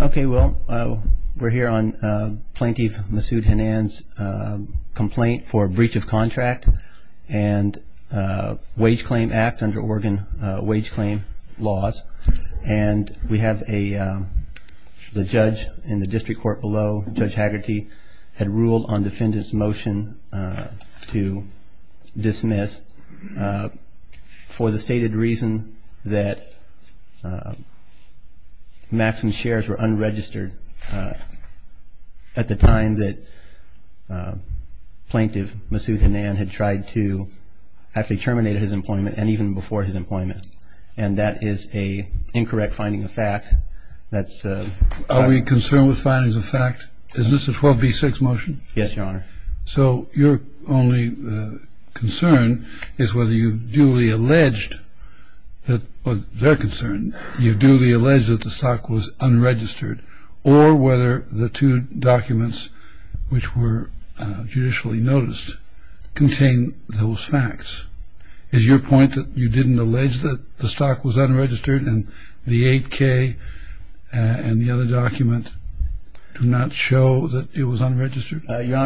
Okay, well, we're here on Plaintiff Masud Hannan's complaint for breach of contract and Wage Claim Act under Oregon Wage Claim laws. And we have the judge in the district court below, Judge Haggerty, had ruled on defendant's motion to dismiss for the stated reason that Maxim's shares were unregistered at the time that Plaintiff Masud Hannan had tried to actually terminate his employment, and even before his employment. And that is an incorrect finding of fact. Are we concerned with findings of fact? Is this a 12b-6 motion? Yes, Your Honor. So your only concern is whether you duly alleged that, or their concern, you duly alleged that the stock was unregistered, or whether the two documents which were judicially noticed contain those facts. Is your point that you didn't allege that the stock was unregistered and the 8k and the other document do not show that it was unregistered? Your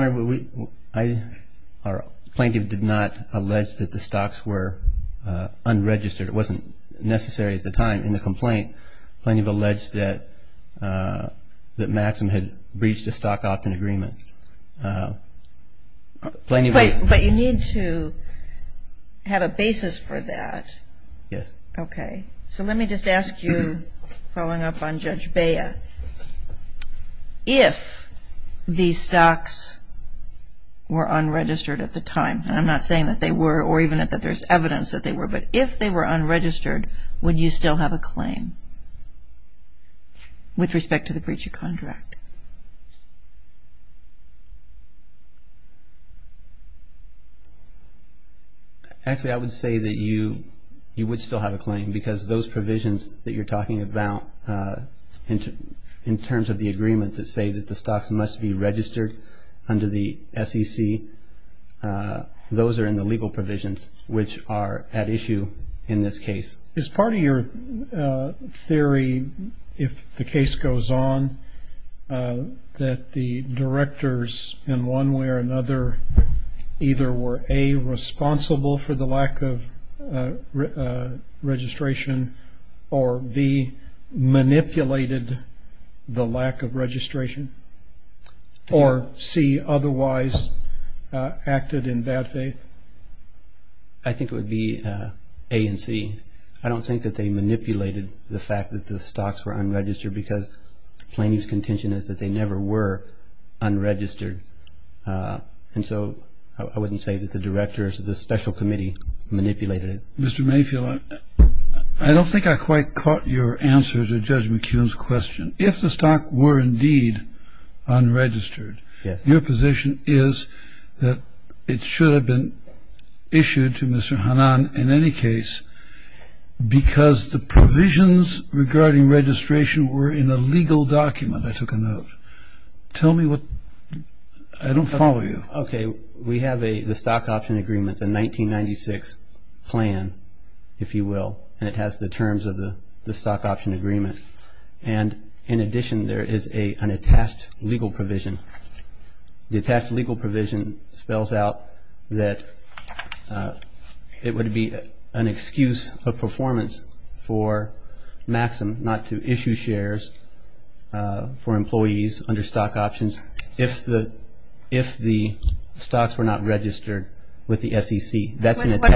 Honor, Plaintiff did not allege that the stocks were unregistered. It wasn't necessary at the time in the complaint. Plaintiff alleged that Maxim had breached a stock opt-in agreement. But you need to have a basis for that. Yes. Okay. So let me just ask you, following up on Judge Bea, if these stocks were unregistered at the time, and I'm not saying that they were or even that there's evidence that they were, but if they were unregistered, would you still have a claim with respect to the breach of contract? Actually, I would say that you would still have a claim, because those provisions that you're talking about in terms of the agreement that say that the stocks must be registered under the SEC, those are in the legal provisions which are at issue in this case. Is part of your theory, if the case goes on, that the directors in one way or another either were A, responsible for the lack of registration, or B, manipulated the lack of registration, or C, otherwise acted in bad faith? I think it would be A and C. I don't think that they manipulated the fact that the stocks were unregistered, because plaintiff's contention is that they never were unregistered. And so I wouldn't say that the directors of the special committee manipulated it. Mr. Mayfield, I don't think I quite caught your answer to Judge McKeown's question. If the stock were indeed unregistered, your position is that it should have been issued to Mr. Hannan in any case, because the provisions regarding registration were in a legal document. I took a note. Tell me what, I don't follow you. Okay, we have the stock option agreement, the 1996 plan, if you will, and it has the terms of the stock option agreement. And in addition, there is an attached legal provision. The attached legal provision spells out that it would be an excuse of performance for Maxim not to issue shares for employees under stock options if the stocks were not registered with the SEC. What document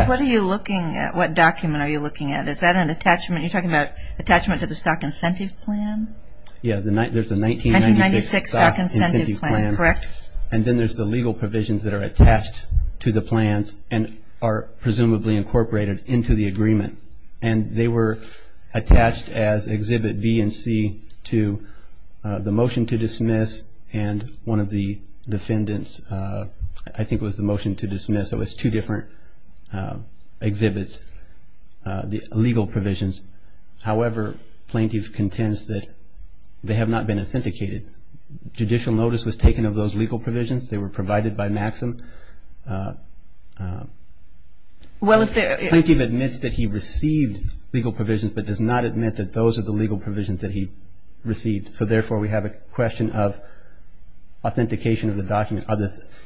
are you looking at? Is that an attachment? You're talking about attachment to the stock incentive plan? Yeah, there's a 1996 stock incentive plan. Correct. And then there's the legal provisions that are attached to the plans and are presumably incorporated into the agreement. And they were attached as Exhibit B and C to the motion to dismiss so it's two different exhibits, the legal provisions. However, Plaintiff contends that they have not been authenticated. Judicial notice was taken of those legal provisions. They were provided by Maxim. Plaintiff admits that he received legal provisions but does not admit that those are the legal provisions that he received. So therefore, we have a question of authentication of the document.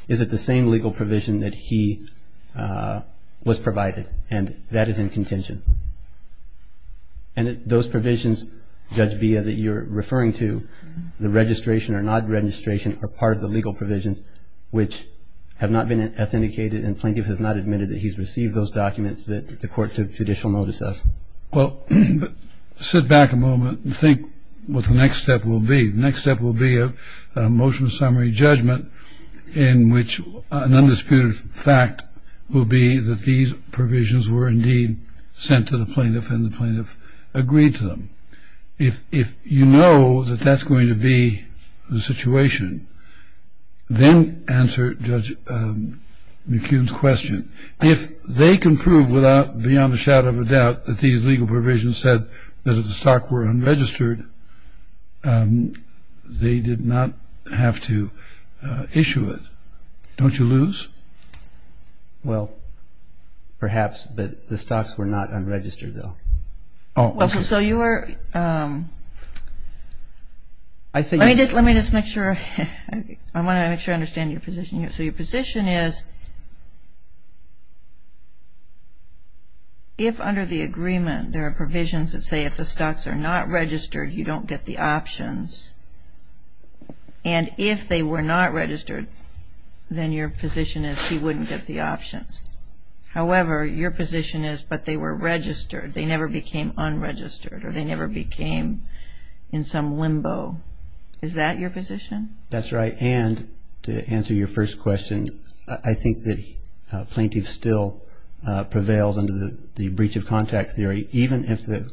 Is it the same legal provision that he was provided? And that is in contention. And those provisions, Judge Bia, that you're referring to, the registration or not registration are part of the legal provisions which have not been authenticated and Plaintiff has not admitted that he's received those documents that the court took judicial notice of. Well, sit back a moment and think what the next step will be. The next step will be a motion of summary judgment in which an undisputed fact will be that these provisions were indeed sent to the plaintiff and the plaintiff agreed to them. If you know that that's going to be the situation, then answer Judge McCune's question. If they can prove without beyond a shadow of a doubt that these legal provisions said that if the stock were unregistered, they did not have to issue it, don't you lose? Well, perhaps. But the stocks were not unregistered, though. So you are ‑‑ let me just make sure. I want to make sure I understand your position here. So your position is if under the agreement there are provisions that say if the stocks are not registered, you don't get the options, and if they were not registered, then your position is he wouldn't get the options. However, your position is but they were registered, they never became unregistered or they never became in some limbo. Is that your position? That's right. And to answer your first question, I think the plaintiff still prevails under the breach of contract theory, even if the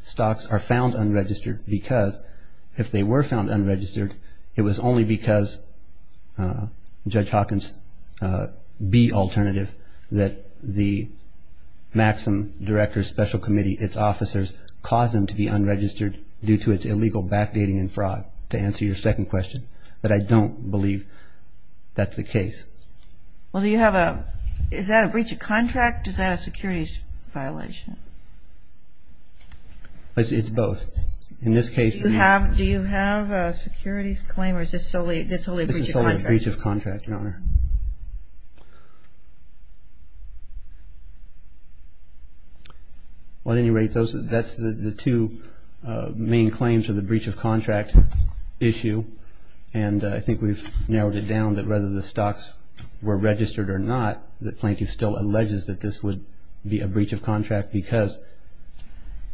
stocks are found unregistered because if they were found unregistered, it was only because Judge Hawkins B alternative that the Maxim Director's Special Committee, its officers, caused them to be unregistered due to its illegal backdating and fraud, to answer your second question. But I don't believe that's the case. Well, do you have a ‑‑ is that a breach of contract? Is that a securities violation? It's both. In this case ‑‑ Do you have a securities claim or is this solely a breach of contract? This is solely a breach of contract, Your Honor. At any rate, that's the two main claims of the breach of contract issue. And I think we've narrowed it down that whether the stocks were registered or not, the plaintiff still alleges that this would be a breach of contract because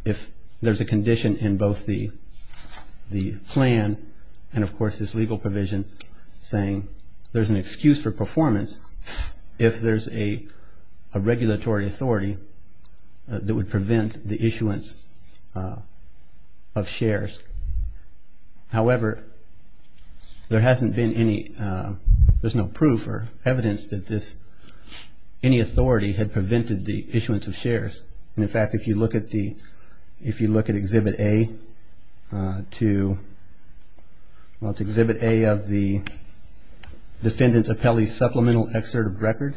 if there's a condition in both the plan and, of course, there's this legal provision saying there's an excuse for performance if there's a regulatory authority that would prevent the issuance of shares. However, there hasn't been any ‑‑ there's no proof or evidence that this ‑‑ any authority had prevented the issuance of shares. And, in fact, if you look at the ‑‑ if you look at Exhibit A to ‑‑ well, it's Exhibit A of the Defendant's Appellee's Supplemental Excerpt of Record.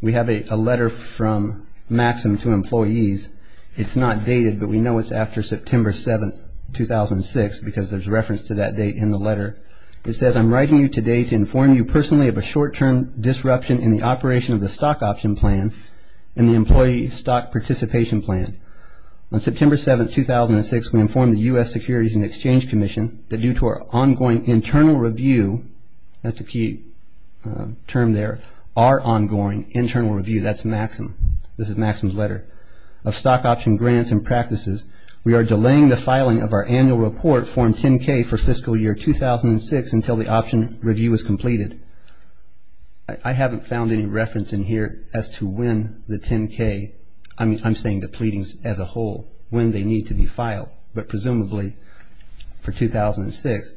We have a letter from Maxim to employees. It's not dated, but we know it's after September 7th, 2006, because there's reference to that date in the letter. It says, I'm writing you today to inform you personally of a short‑term disruption in the operation of the stock option plan and the employee stock participation plan. On September 7th, 2006, we informed the U.S. Securities and Exchange Commission that due to our ongoing internal review, that's a key term there, our ongoing internal review, that's Maxim, this is Maxim's letter, of stock option grants and practices, we are delaying the filing of our annual report form 10K for fiscal year 2006 until the option review is completed. I haven't found any reference in here as to when the 10K, I'm saying the pleadings as a whole, when they need to be filed, but presumably for 2006,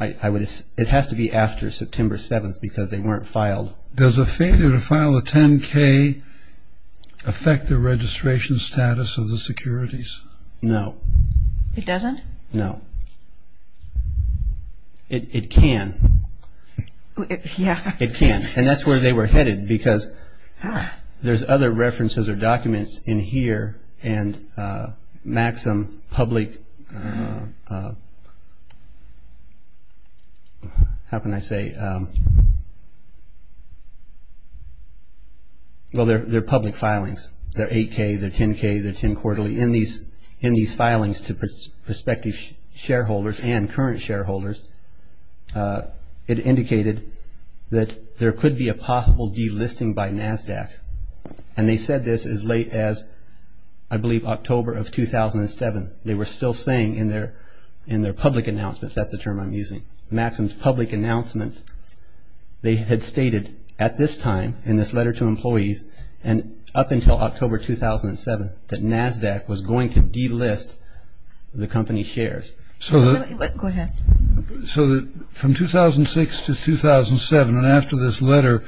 it has to be after September 7th because they weren't filed. Does a failure to file a 10K affect the registration status of the securities? No. It doesn't? No. It can. Yeah. It can. And that's where they were headed because there's other references or documents in here and Maxim public, how can I say, well, they're public filings. They're 8K, they're 10K, they're 10 quarterly. In these filings to prospective shareholders and current shareholders, it indicated that there could be a possible delisting by NASDAQ, and they said this as late as, I believe, October of 2007. They were still saying in their public announcements, that's the term I'm using, Maxim's public announcements, they had stated at this time in this letter to employees and up until October 2007 that NASDAQ was going to delist the company's shares. Go ahead. So from 2006 to 2007 and after this letter,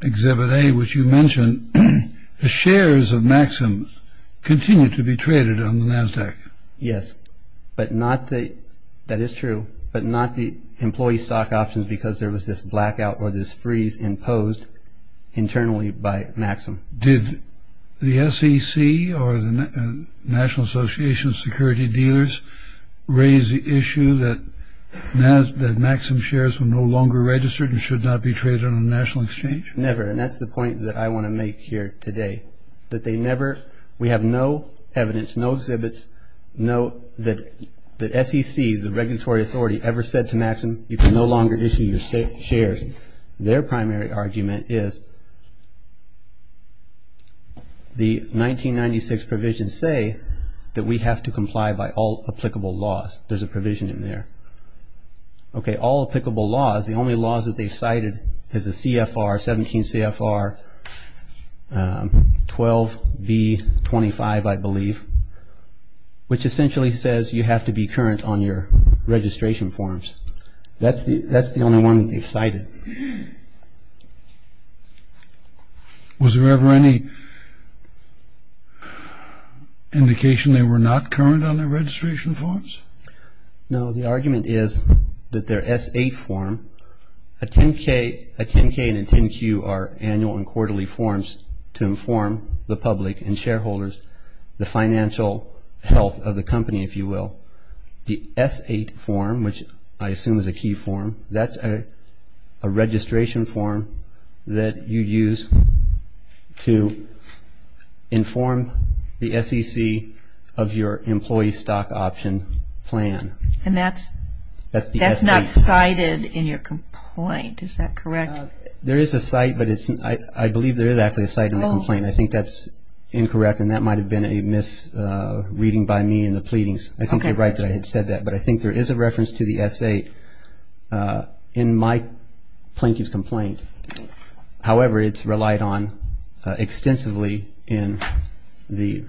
Exhibit A, which you mentioned, the shares of Maxim continued to be traded on the NASDAQ. Yes. But not the, that is true, but not the employee stock options because there was this blackout or this freeze imposed internally by Maxim. Did the SEC or the National Association of Security Dealers raise the issue that Maxim shares were no longer registered and should not be traded on a national exchange? Never, and that's the point that I want to make here today, that they never, we have no evidence, no exhibits, no, that the SEC, the regulatory authority, ever said to Maxim, you can no longer issue your shares. Their primary argument is the 1996 provisions say that we have to comply by all applicable laws. There's a provision in there. Okay, all applicable laws, the only laws that they cited is the CFR, 17 CFR 12B25, I believe, which essentially says you have to be current on your registration forms. That's the only one they cited. Was there ever any indication they were not current on their registration forms? No, the argument is that their S8 form, a 10K and a 10Q are annual and quarterly forms to inform the public and shareholders, the financial health of the company, if you will. The S8 form, which I assume is a key form, that's a registration form that you use to inform the SEC of your employee stock option plan. And that's not cited in your complaint, is that correct? There is a cite, but I believe there is actually a cite in the complaint. I think that's incorrect and that might have been a misreading by me in the pleadings. I think you're right that I had said that. But I think there is a reference to the S8 in my plaintiff's complaint. However, it's relied on extensively in the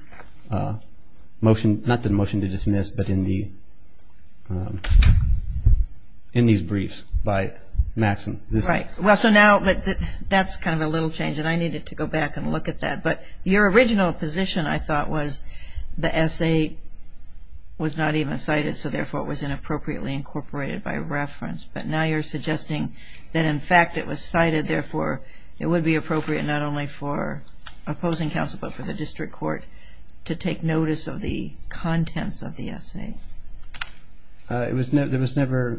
motion, not the motion to dismiss, but in these briefs by Maxim. Right. Well, so now that's kind of a little change and I needed to go back and look at that. But your original position, I thought, was the S8 was not even cited, so therefore it was inappropriately incorporated by reference. But now you're suggesting that, in fact, it was cited, therefore it would be appropriate not only for opposing counsel, but for the district court to take notice of the contents of the S8. There was never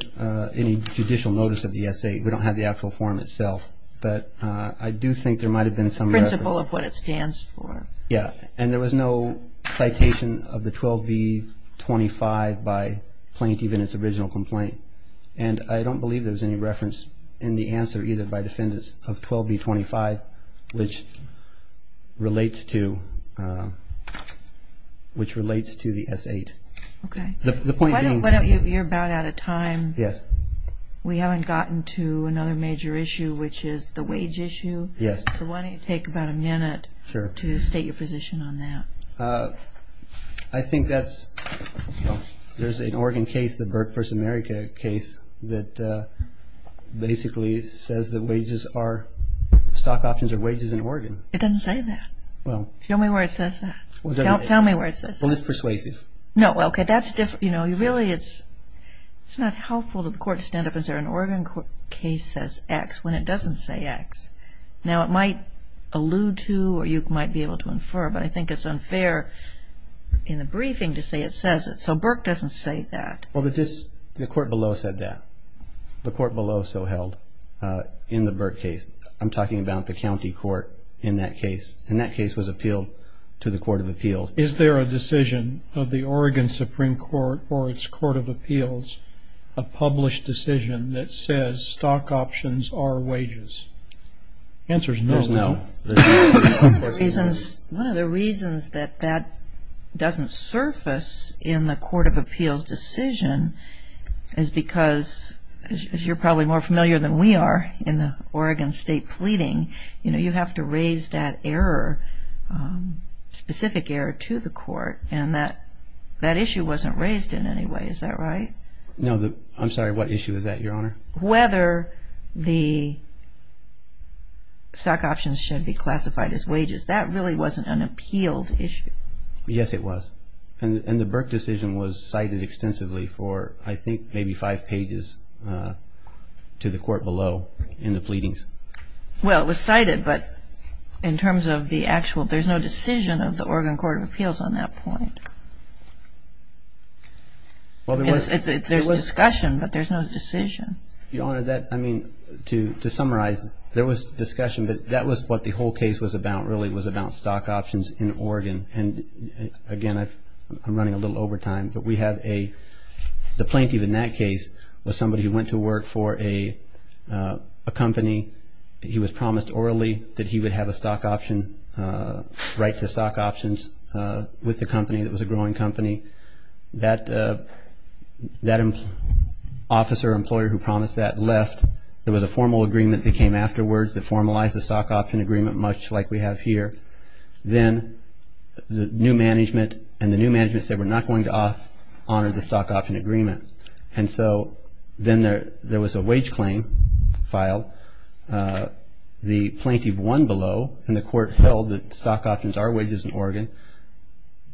any judicial notice of the S8. We don't have the actual form itself, but I do think there might have been some reference. The principle of what it stands for. Yeah, and there was no citation of the 12B25 by plaintiff in its original complaint. And I don't believe there was any reference in the answer either by defendants of 12B25, which relates to the S8. Okay. You're about out of time. Yes. We haven't gotten to another major issue, which is the wage issue. Yes. So why don't you take about a minute to state your position on that. Sure. I think that's, you know, there's an Oregon case, the Burke v. America case, that basically says that wages are, stock options are wages in Oregon. It doesn't say that. Well. Show me where it says that. Tell me where it says that. Well, it's persuasive. No, okay. But that's, you know, really it's not helpful to the court to stand up and say an Oregon case says X when it doesn't say X. Now, it might allude to or you might be able to infer, but I think it's unfair in the briefing to say it says it. So Burke doesn't say that. Well, the court below said that. The court below so held in the Burke case. I'm talking about the county court in that case, and that case was appealed to the Court of Appeals. Is there a decision of the Oregon Supreme Court or its Court of Appeals, a published decision that says stock options are wages? The answer is no. There's no. One of the reasons that that doesn't surface in the Court of Appeals decision is because, as you're probably more familiar than we are in the Oregon State pleading, you know, specific error to the court, and that issue wasn't raised in any way. Is that right? No. I'm sorry. What issue is that, Your Honor? Whether the stock options should be classified as wages. That really wasn't an appealed issue. Yes, it was. And the Burke decision was cited extensively for, I think, maybe five pages to the court below in the pleadings. Well, it was cited, but in terms of the actual, there's no decision of the Oregon Court of Appeals on that point. There's discussion, but there's no decision. Your Honor, that, I mean, to summarize, there was discussion, but that was what the whole case was about, really, was about stock options in Oregon. And, again, I'm running a little over time, but we have a, the plaintiff in that case was somebody who went to work for a company. He was promised orally that he would have a stock option, right to stock options with the company that was a growing company. That officer or employer who promised that left. There was a formal agreement that came afterwards that formalized the stock option agreement, much like we have here. Then the new management, and the new management said we're not going to honor the stock option agreement. And so then there was a wage claim filed. The plaintiff won below, and the court held that stock options are wages in Oregon.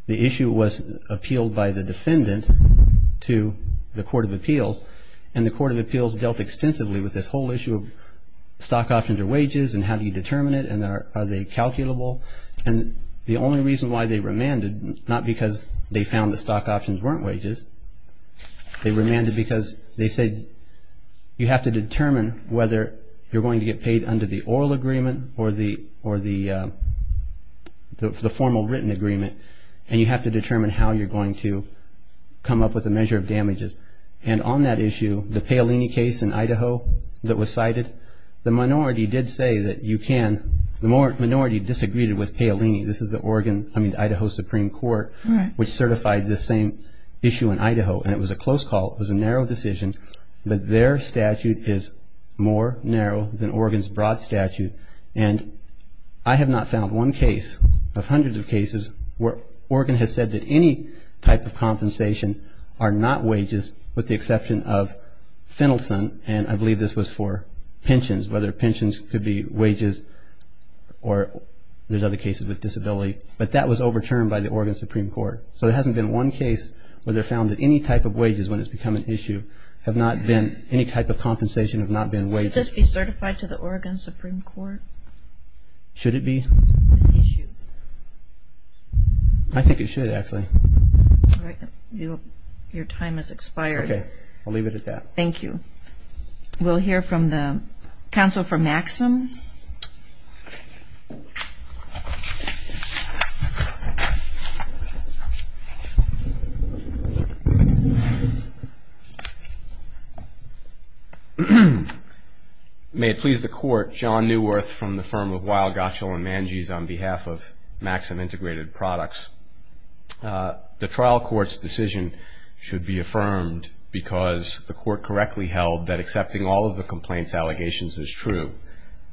The issue was appealed by the defendant to the Court of Appeals, and the Court of Appeals dealt extensively with this whole issue of stock options are wages and how do you determine it and are they calculable. And the only reason why they remanded, not because they found the stock options weren't wages, they remanded because they said you have to determine whether you're going to get paid under the oral agreement or the formal written agreement, and you have to determine how you're going to come up with a measure of damages. And on that issue, the Paolini case in Idaho that was cited, the minority disagreed with Paolini. This is the Idaho Supreme Court, which certified this same issue in Idaho, and it was a close call. It was a narrow decision, but their statute is more narrow than Oregon's broad statute. And I have not found one case of hundreds of cases where Oregon has said that any type of compensation are not wages with the exception of Finnelson, and I believe this was for pensions, whether pensions could be wages or there's other cases with disability. But that was overturned by the Oregon Supreme Court. So there hasn't been one case where they found that any type of wages, when it's become an issue, have not been, any type of compensation have not been wages. Should this be certified to the Oregon Supreme Court? Should it be? This issue. I think it should, actually. All right. Your time has expired. Okay. I'll leave it at that. Thank you. We'll hear from the counsel for Maxim. May it please the Court. I'm John Neuwirth from the firm of Weill, Gottschall & Mangese on behalf of Maxim Integrated Products. The trial court's decision should be affirmed because the court correctly held that accepting all of the complaint's allegations is true.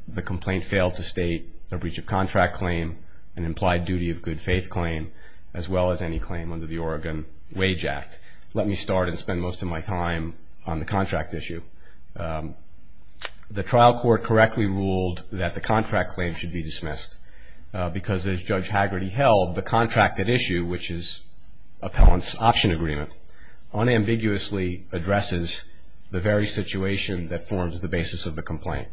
The complaint failed to state a breach of contract claim, an implied duty of good faith claim, as well as any claim under the Oregon Wage Act. Let me start and spend most of my time on the contract issue. The trial court correctly ruled that the contract claim should be dismissed because, as Judge Haggerty held, the contract at issue, which is an option agreement, unambiguously addresses the very situation that forms the basis of the complaint.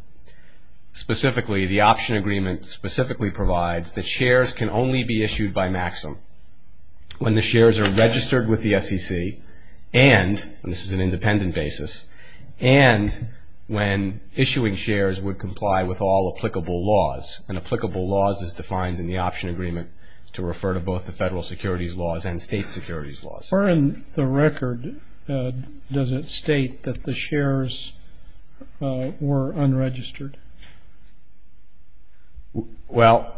Specifically, the option agreement specifically provides that shares can only be issued by Maxim when the shares are registered with the SEC and, and this is an independent basis, and when issuing shares would comply with all applicable laws. And applicable laws is defined in the option agreement to refer to both the federal securities laws and state securities laws. Where in the record does it state that the shares were unregistered? Well,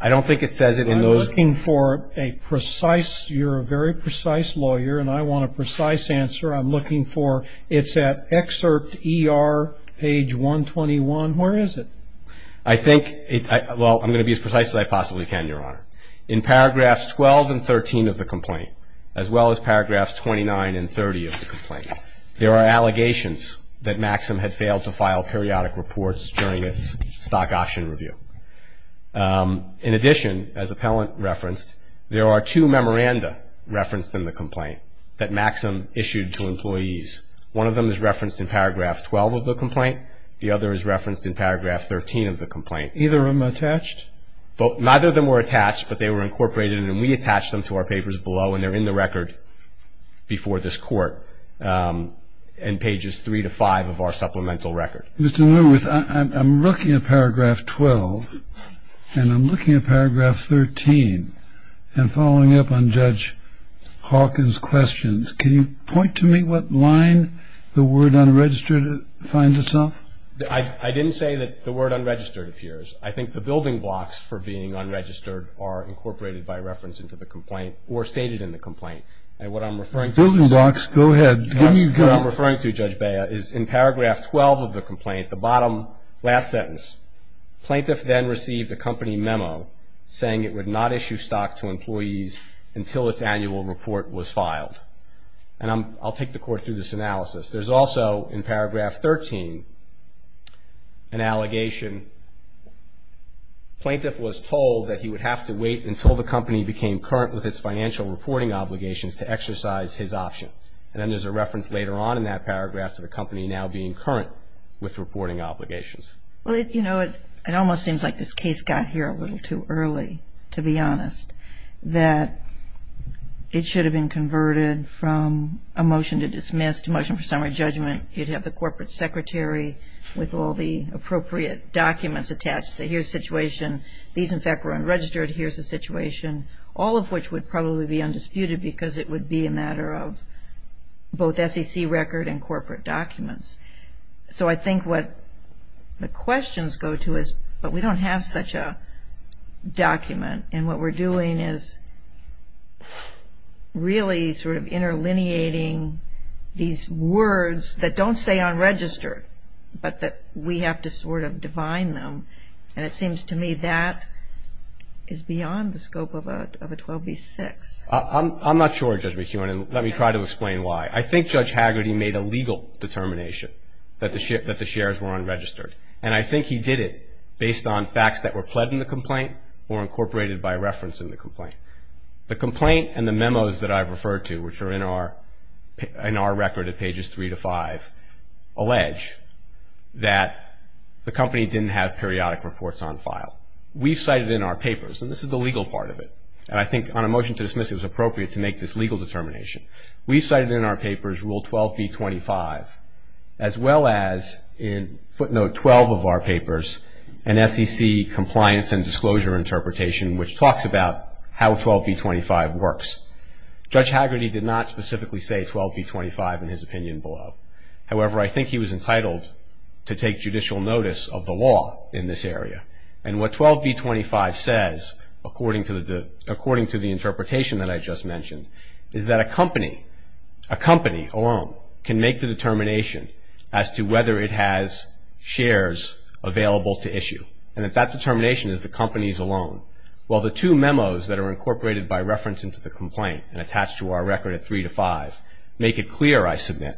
I don't think it says it in those. I'm looking for a precise, you're a very precise lawyer, and I want a precise answer. I'm looking for, it's at excerpt ER, page 121. Where is it? I think, well, I'm going to be as precise as I possibly can, Your Honor. In paragraphs 12 and 13 of the complaint, as well as paragraphs 29 and 30 of the complaint, there are allegations that Maxim had failed to file periodic reports during its stock auction review. In addition, as Appellant referenced, there are two memoranda referenced in the complaint that Maxim issued to employees. One of them is referenced in paragraph 12 of the complaint. The other is referenced in paragraph 13 of the complaint. Either of them attached? Neither of them were attached, but they were incorporated, and we attached them to our papers below, and they're in the record before this Court, in pages 3 to 5 of our supplemental record. Mr. Lewis, I'm looking at paragraph 12, and I'm looking at paragraph 13, and following up on Judge Hawkins' questions, can you point to me what line the word unregistered finds itself? I didn't say that the word unregistered appears. I think the building blocks for being unregistered are incorporated by reference into the complaint or stated in the complaint. And what I'm referring to is in paragraph 12 of the complaint, the bottom last sentence, Plaintiff then received a company memo saying it would not issue stock to employees until its annual report was filed. And I'll take the Court through this analysis. There's also, in paragraph 13, an allegation. Plaintiff was told that he would have to wait until the company became current with its financial reporting obligations to exercise his option. And then there's a reference later on in that paragraph to the company now being current with reporting obligations. Well, you know, it almost seems like this case got here a little too early, to be honest, that it should have been converted from a motion to dismiss to a motion for summary judgment. You'd have the corporate secretary with all the appropriate documents attached to say here's the situation. These, in fact, were unregistered. Here's the situation, all of which would probably be undisputed because it would be a matter of both SEC record and corporate documents. So I think what the questions go to is, but we don't have such a document, and what we're doing is really sort of interlineating these words that don't say unregistered, but that we have to sort of divine them. And it seems to me that is beyond the scope of a 12b-6. I'm not sure, Judge McKeown, and let me try to explain why. I think Judge Haggerty made a legal determination that the shares were unregistered, and I think he did it based on facts that were pled in the complaint or incorporated by reference in the complaint. The complaint and the memos that I've referred to, which are in our record at pages 3 to 5, allege that the company didn't have periodic reports on file. We've cited in our papers, and this is the legal part of it, and I think on a motion to dismiss it was appropriate to make this legal determination. We've cited in our papers Rule 12b-25, as well as in footnote 12 of our papers, an SEC compliance and disclosure interpretation which talks about how 12b-25 works. Judge Haggerty did not specifically say 12b-25 in his opinion below. However, I think he was entitled to take judicial notice of the law in this area, and what 12b-25 says, according to the interpretation that I just mentioned, is that a company alone can make the determination as to whether it has shares available to issue, and that that determination is the company's alone. While the two memos that are incorporated by reference into the complaint and attached to our record at 3 to 5 make it clear, I submit,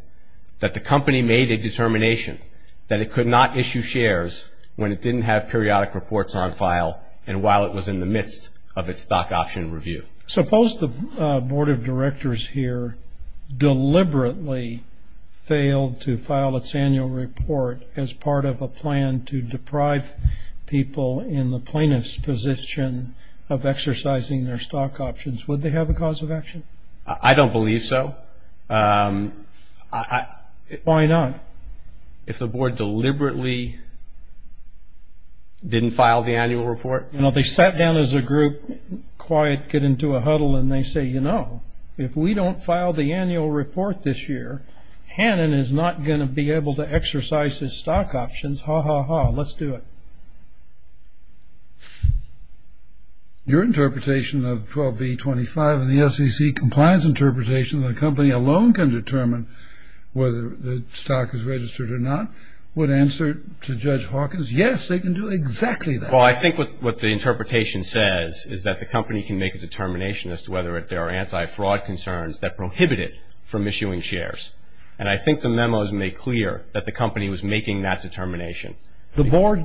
that the company made a determination that it could not issue shares when it didn't have periodic reports on file and while it was in the midst of its stock option review. Suppose the Board of Directors here deliberately failed to file its annual report as part of a plan to deprive people in the plaintiff's position of exercising their stock options. Would they have a cause of action? I don't believe so. Why not? If the Board deliberately didn't file the annual report? You know, they sat down as a group, quiet, get into a huddle, and they say, you know, if we don't file the annual report this year, Hannon is not going to be able to exercise his stock options, ha, ha, ha, let's do it. Your interpretation of 12B25 and the SEC compliance interpretation that a company alone can determine whether the stock is registered or not, would answer to Judge Hawkins, yes, they can do exactly that. Well, I think what the interpretation says is that the company can make a determination as to whether there are anti-fraud concerns that prohibit it from issuing shares. And I think the memos make clear that the company was making that determination. The Board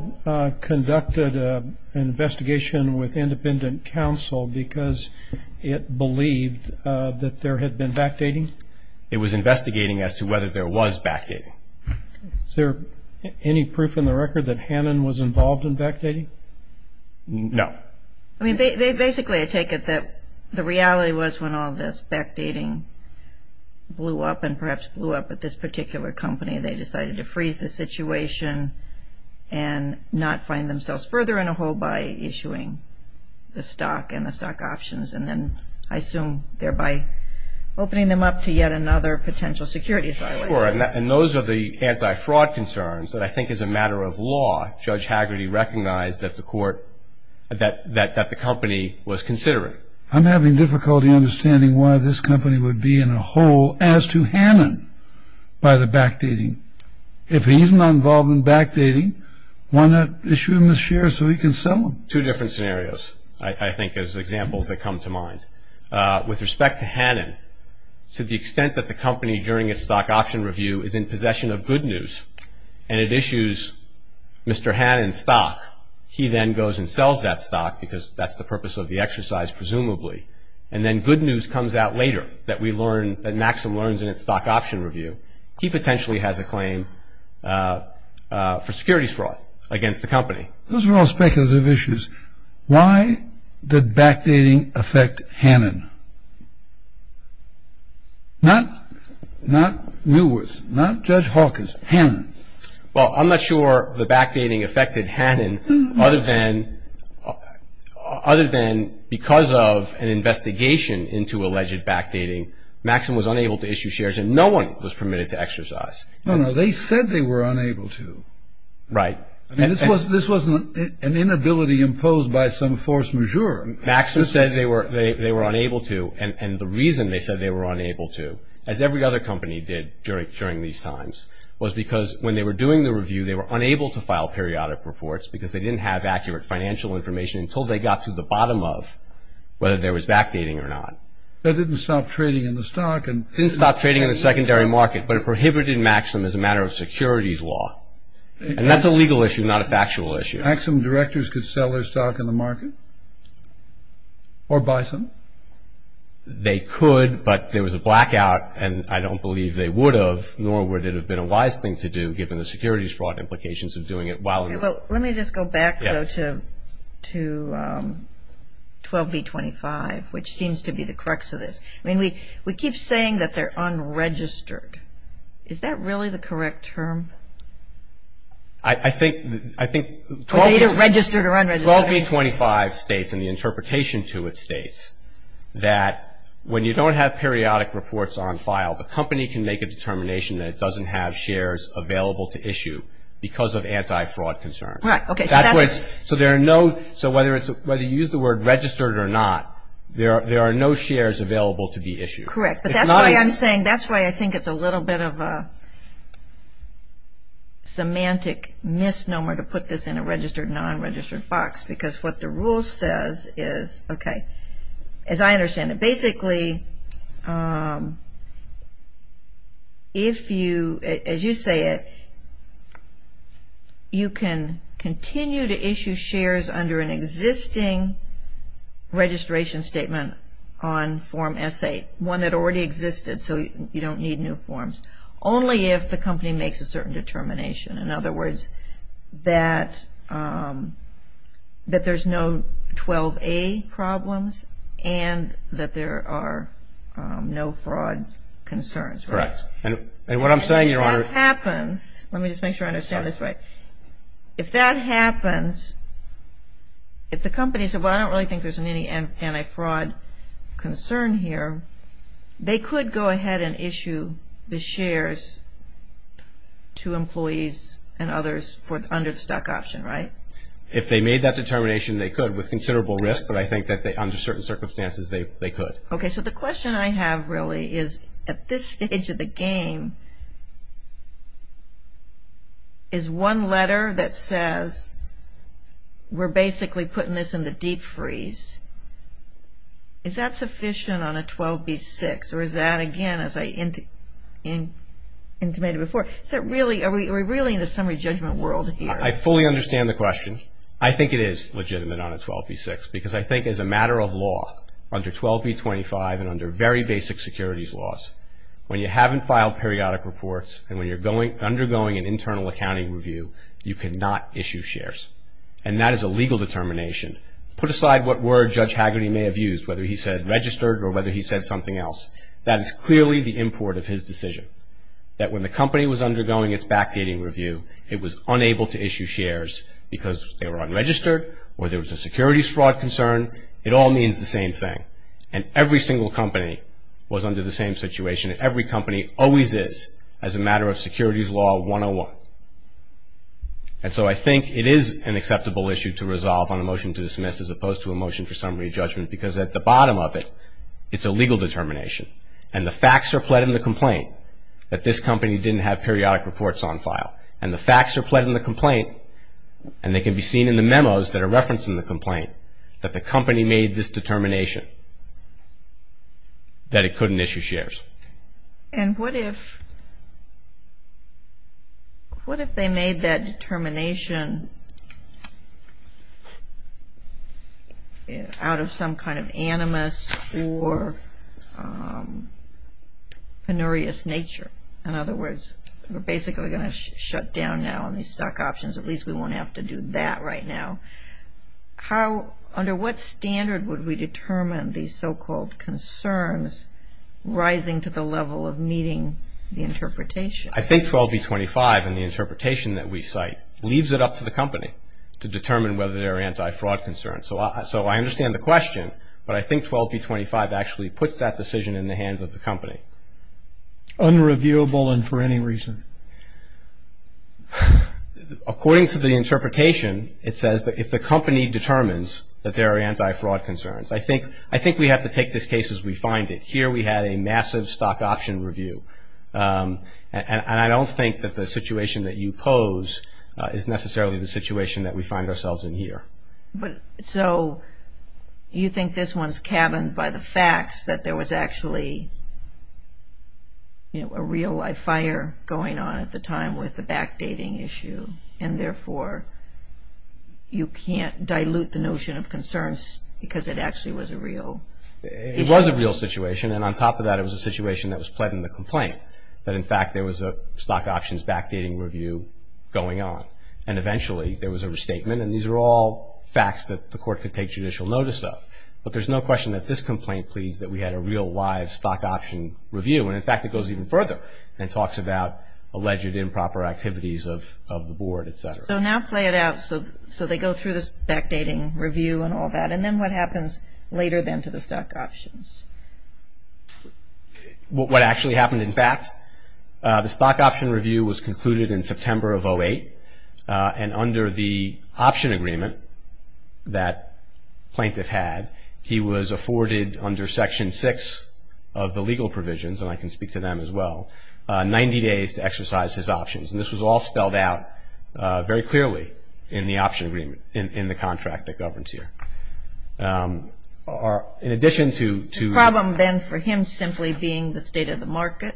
conducted an investigation with independent counsel because it believed that there had been backdating? It was investigating as to whether there was backdating. Is there any proof in the record that Hannon was involved in backdating? No. I mean, basically I take it that the reality was when all this backdating blew up and perhaps blew up at this particular company, they decided to freeze the situation and not find themselves further in a hole by issuing the stock and the stock options. And then I assume thereby opening them up to yet another potential security violation. Sure. And those are the anti-fraud concerns that I think as a matter of law, Judge Haggerty recognized that the court, that the company was considering. I'm having difficulty understanding why this company would be in a hole as to Hannon by the backdating. If he's not involved in backdating, why not issue him a share so he can sell them? Two different scenarios, I think, as examples that come to mind. With respect to Hannon, to the extent that the company, during its stock option review, is in possession of good news and it issues Mr. Hannon's stock, he then goes and sells that stock because that's the purpose of the exercise, presumably. And then good news comes out later that we learn, that Maxim learns in its stock option review. He potentially has a claim for securities fraud against the company. Those are all speculative issues. Why did backdating affect Hannon? Not Wilworth, not Judge Hawkins, Hannon. Well, I'm not sure the backdating affected Hannon, other than because of an investigation into alleged backdating, Maxim was unable to issue shares and no one was permitted to exercise. No, no, they said they were unable to. Right. I mean, this wasn't an inability imposed by some force majeure. Maxim said they were unable to, and the reason they said they were unable to, as every other company did during these times, was because when they were doing the review, they were unable to file periodic reports because they didn't have accurate financial information until they got to the bottom of whether there was backdating or not. That didn't stop trading in the stock. It didn't stop trading in the secondary market, but it prohibited Maxim as a matter of securities law. And that's a legal issue, not a factual issue. Maxim directors could sell their stock in the market or buy some? They could, but there was a blackout, and I don't believe they would have, nor would it have been a wise thing to do, given the securities fraud implications of doing it while in the market. Let me just go back, though, to 12B25, which seems to be the crux of this. I mean, we keep saying that they're unregistered. Is that really the correct term? I think 12B25 states, and the interpretation to it states, that when you don't have periodic reports on file, the company can make a determination that it doesn't have shares available to issue because of anti-fraud concerns. So whether you use the word registered or not, there are no shares available to be issued. Correct. But that's why I'm saying, that's why I think it's a little bit of a semantic misnomer to put this in a registered, non-registered box, because what the rule says is, okay, as I understand it, basically if you, as you say it, you can continue to issue shares under an existing registration statement on Form S8, one that already existed, so you don't need new forms, only if the company makes a certain determination. In other words, that there's no 12A problems and that there are no fraud concerns. Correct. And what I'm saying, Your Honor. If that happens, let me just make sure I understand this right. If that happens, if the company said, well, I don't really think there's any anti-fraud concern here, they could go ahead and issue the shares to employees and others under the stock option, right? If they made that determination, they could with considerable risk, but I think that under certain circumstances, they could. Okay. So the question I have really is, at this stage of the game, is one letter that says, we're basically putting this in the deep freeze, is that sufficient on a 12B-6, or is that, again, as I intimated before, is that really, are we really in the summary judgment world here? I fully understand the question. I think it is legitimate on a 12B-6, because I think as a matter of law, under 12B-25 and under very basic securities laws, when you haven't filed periodic reports and when you're undergoing an internal accounting review, you cannot issue shares. And that is a legal determination. Put aside what word Judge Hagerty may have used, whether he said registered or whether he said something else. That is clearly the import of his decision, that when the company was undergoing its backdating review, it was unable to issue shares because they were unregistered or there was a securities fraud concern. It all means the same thing. And every single company was under the same situation, and every company always is, as a matter of securities law 101. And so I think it is an acceptable issue to resolve on a motion to dismiss as opposed to a motion for summary judgment, because at the bottom of it, it's a legal determination. And the facts are pled in the complaint that this company didn't have periodic reports on file. And the facts are pled in the complaint, and they can be seen in the memos that are referenced in the complaint, that the company made this determination that it couldn't issue shares. And what if they made that determination out of some kind of animus or penurious nature? In other words, we're basically going to shut down now on these stock options. At least we won't have to do that right now. Under what standard would we determine these so-called concerns as rising to the level of meeting the interpretation? I think 12B25 and the interpretation that we cite leaves it up to the company to determine whether they're anti-fraud concerns. So I understand the question, but I think 12B25 actually puts that decision in the hands of the company. Unreviewable and for any reason? According to the interpretation, it says that if the company determines that there are anti-fraud concerns. I think we have to take this case as we find it. Here we had a massive stock option review, and I don't think that the situation that you pose is necessarily the situation that we find ourselves in here. So you think this one's cabined by the facts, that there was actually a real-life fire going on at the time with the backdating issue, and therefore you can't dilute the notion of concerns because it actually was a real issue? It was a real situation, and on top of that it was a situation that was pled in the complaint, that in fact there was a stock options backdating review going on. And eventually there was a restatement, and these are all facts that the court could take judicial notice of. But there's no question that this complaint pleads that we had a real-life stock option review. And, in fact, it goes even further and talks about alleged improper activities of the board, et cetera. So now play it out. So they go through this backdating review and all that, and then what happens later then to the stock options? What actually happened, in fact, the stock option review was concluded in September of 2008, and under the option agreement that plaintiff had, he was afforded under Section 6 of the legal provisions, and I can speak to them as well, 90 days to exercise his options. And this was all spelled out very clearly in the option agreement in the contract that governs here. In addition to- The problem then for him simply being the state of the market?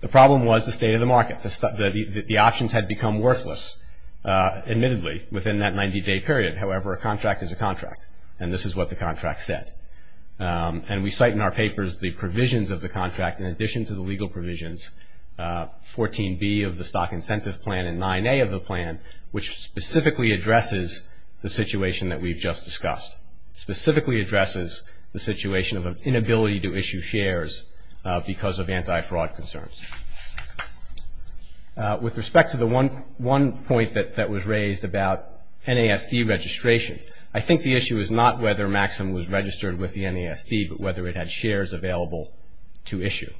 The problem was the state of the market. The options had become worthless, admittedly, within that 90-day period. However, a contract is a contract, and this is what the contract said. And we cite in our papers the provisions of the contract in addition to the legal provisions, 14B of the stock incentive plan and 9A of the plan, which specifically addresses the situation that we've just discussed, specifically addresses the situation of an inability to issue shares because of anti-fraud concerns. With respect to the one point that was raised about NASD registration, I think the issue is not whether MAXIM was registered with the NASD, but whether it had shares available to issue.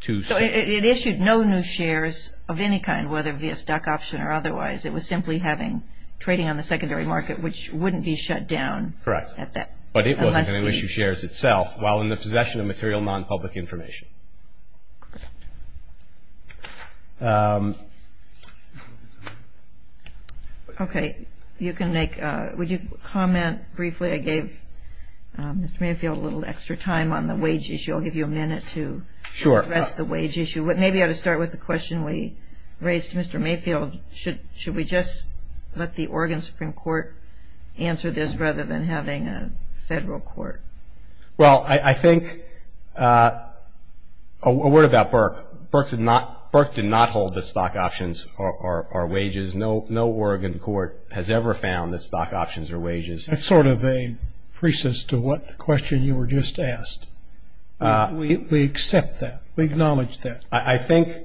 So it issued no new shares of any kind, whether via stock option or otherwise. It was simply having trading on the secondary market, which wouldn't be shut down. Correct. But it wasn't going to issue shares itself, while in the possession of material non-public information. Correct. Okay. Would you comment briefly? I gave Mr. Mayfield a little extra time on the wage issue. I'll give you a minute to address the wage issue. Sure. Maybe I ought to start with the question we raised to Mr. Mayfield. Should we just let the Oregon Supreme Court answer this rather than having a federal court? Well, I think a word about Burke. Burke did not hold that stock options are wages. No Oregon court has ever found that stock options are wages. That's sort of a preface to the question you were just asked. We accept that. We acknowledge that. I think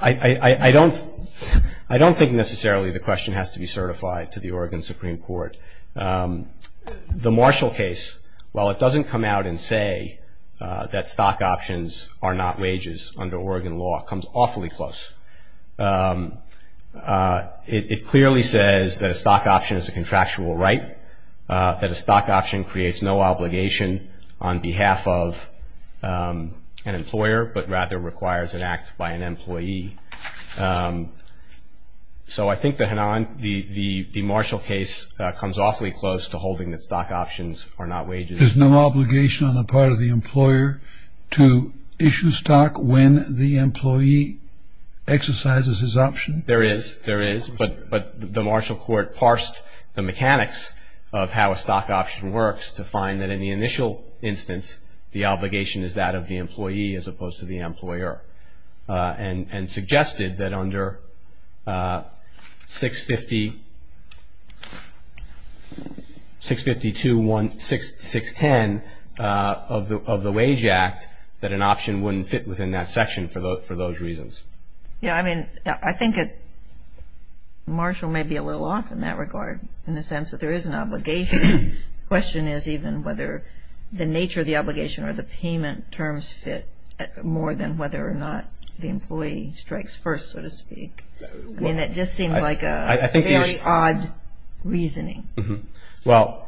I don't think necessarily the question has to be certified to the Oregon Supreme Court. The Marshall case, while it doesn't come out and say that stock options are not wages under Oregon law, comes awfully close. It clearly says that a stock option is a contractual right, that a stock option creates no obligation on behalf of an employer, but rather requires an act by an employee. So I think the Marshall case comes awfully close to holding that stock options are not wages. There's no obligation on the part of the employer to issue stock when the employee exercises his option? There is. There is. But the Marshall court parsed the mechanics of how a stock option works to find that in the initial instance the obligation is that of the employee as opposed to the employer and suggested that under 652-610 of the Wage Act that an option wouldn't fit within that section for those reasons. Yeah, I mean, I think Marshall may be a little off in that regard in the sense that there is an obligation. The question is even whether the nature of the obligation or the payment terms fit more than whether or not the employee strikes first, so to speak. I mean, that just seems like a very odd reasoning. Well,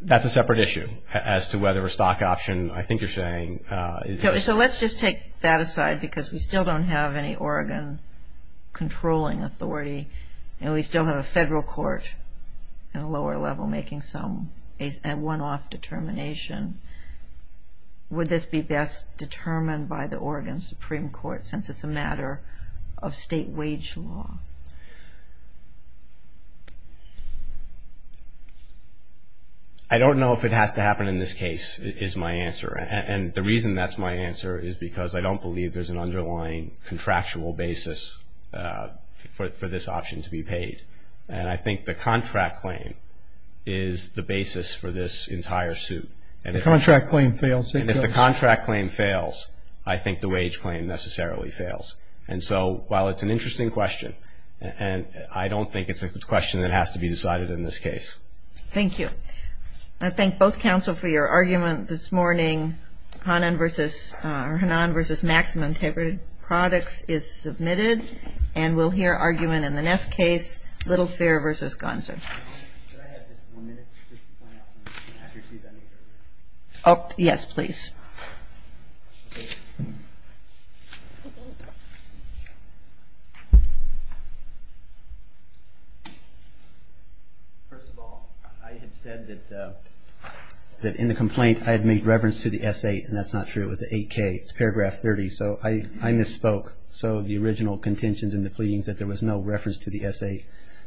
that's a separate issue as to whether a stock option, I think you're saying. So let's just take that aside because we still don't have any Oregon controlling authority and we still have a federal court at a lower level making some one-off determination. Would this be best determined by the Oregon Supreme Court since it's a matter of state wage law? I don't know if it has to happen in this case is my answer. And the reason that's my answer is because I don't believe there's an underlying contractual basis for this option to be paid. And I think the contract claim is the basis for this entire suit. And if the contract claim fails, I think the wage claim necessarily fails. And so while it's an interesting question, I don't think it's a question that has to be decided in this case. Thank you. Thank you. I thank both counsel for your argument this morning. Hannan v. Maxim Integrated Products is submitted. And we'll hear argument in the next case, Little Fair v. Gonser. Yes, please. First of all, I had said that in the complaint I had made reference to the S.A. and that's not true. It was the 8K. It's paragraph 30. So I misspoke. So the original contentions in the pleadings that there was no reference to the S.A.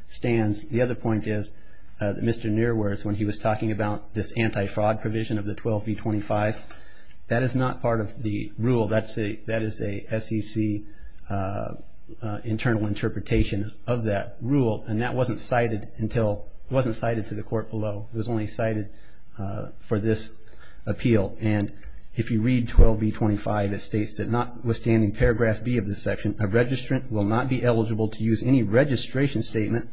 stands. The other point is that Mr. Nearworth, when he was talking about this anti-fraud provision of the 12B25, that is not part of the rule. That is a SEC internal interpretation of that rule. And that wasn't cited to the court below. It was only cited for this appeal. And if you read 12B25, it states that notwithstanding paragraph B of this section, a registrant will not be eligible to use any registration statement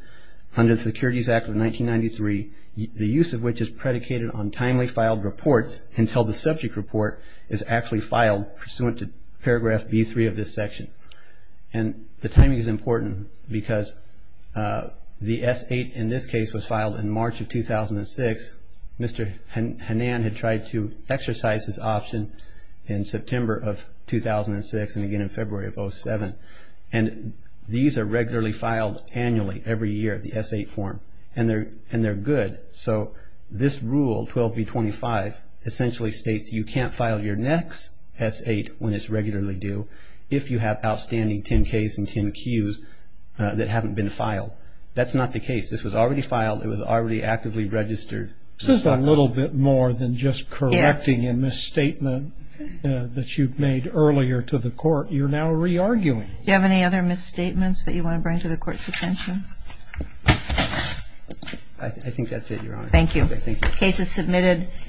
under the Securities Act of 1993, the use of which is predicated on timely filed reports until the subject report is actually filed, pursuant to paragraph B3 of this section. And the timing is important because the S.A. in this case was filed in March of 2006. Mr. Hanan had tried to exercise this option in September of 2006 and again in February of 2007. And these are regularly filed annually every year, the S.A. form, and they're good. So this rule, 12B25, essentially states you can't file your next S.A. when it's regularly due if you have outstanding 10Ks and 10Qs that haven't been filed. That's not the case. This was already filed. It was already actively registered. This is a little bit more than just correcting a misstatement that you've made earlier to the court. You're now re-arguing. Do you have any other misstatements that you want to bring to the court's attention? I think that's it, Your Honor. Thank you. The case is submitted.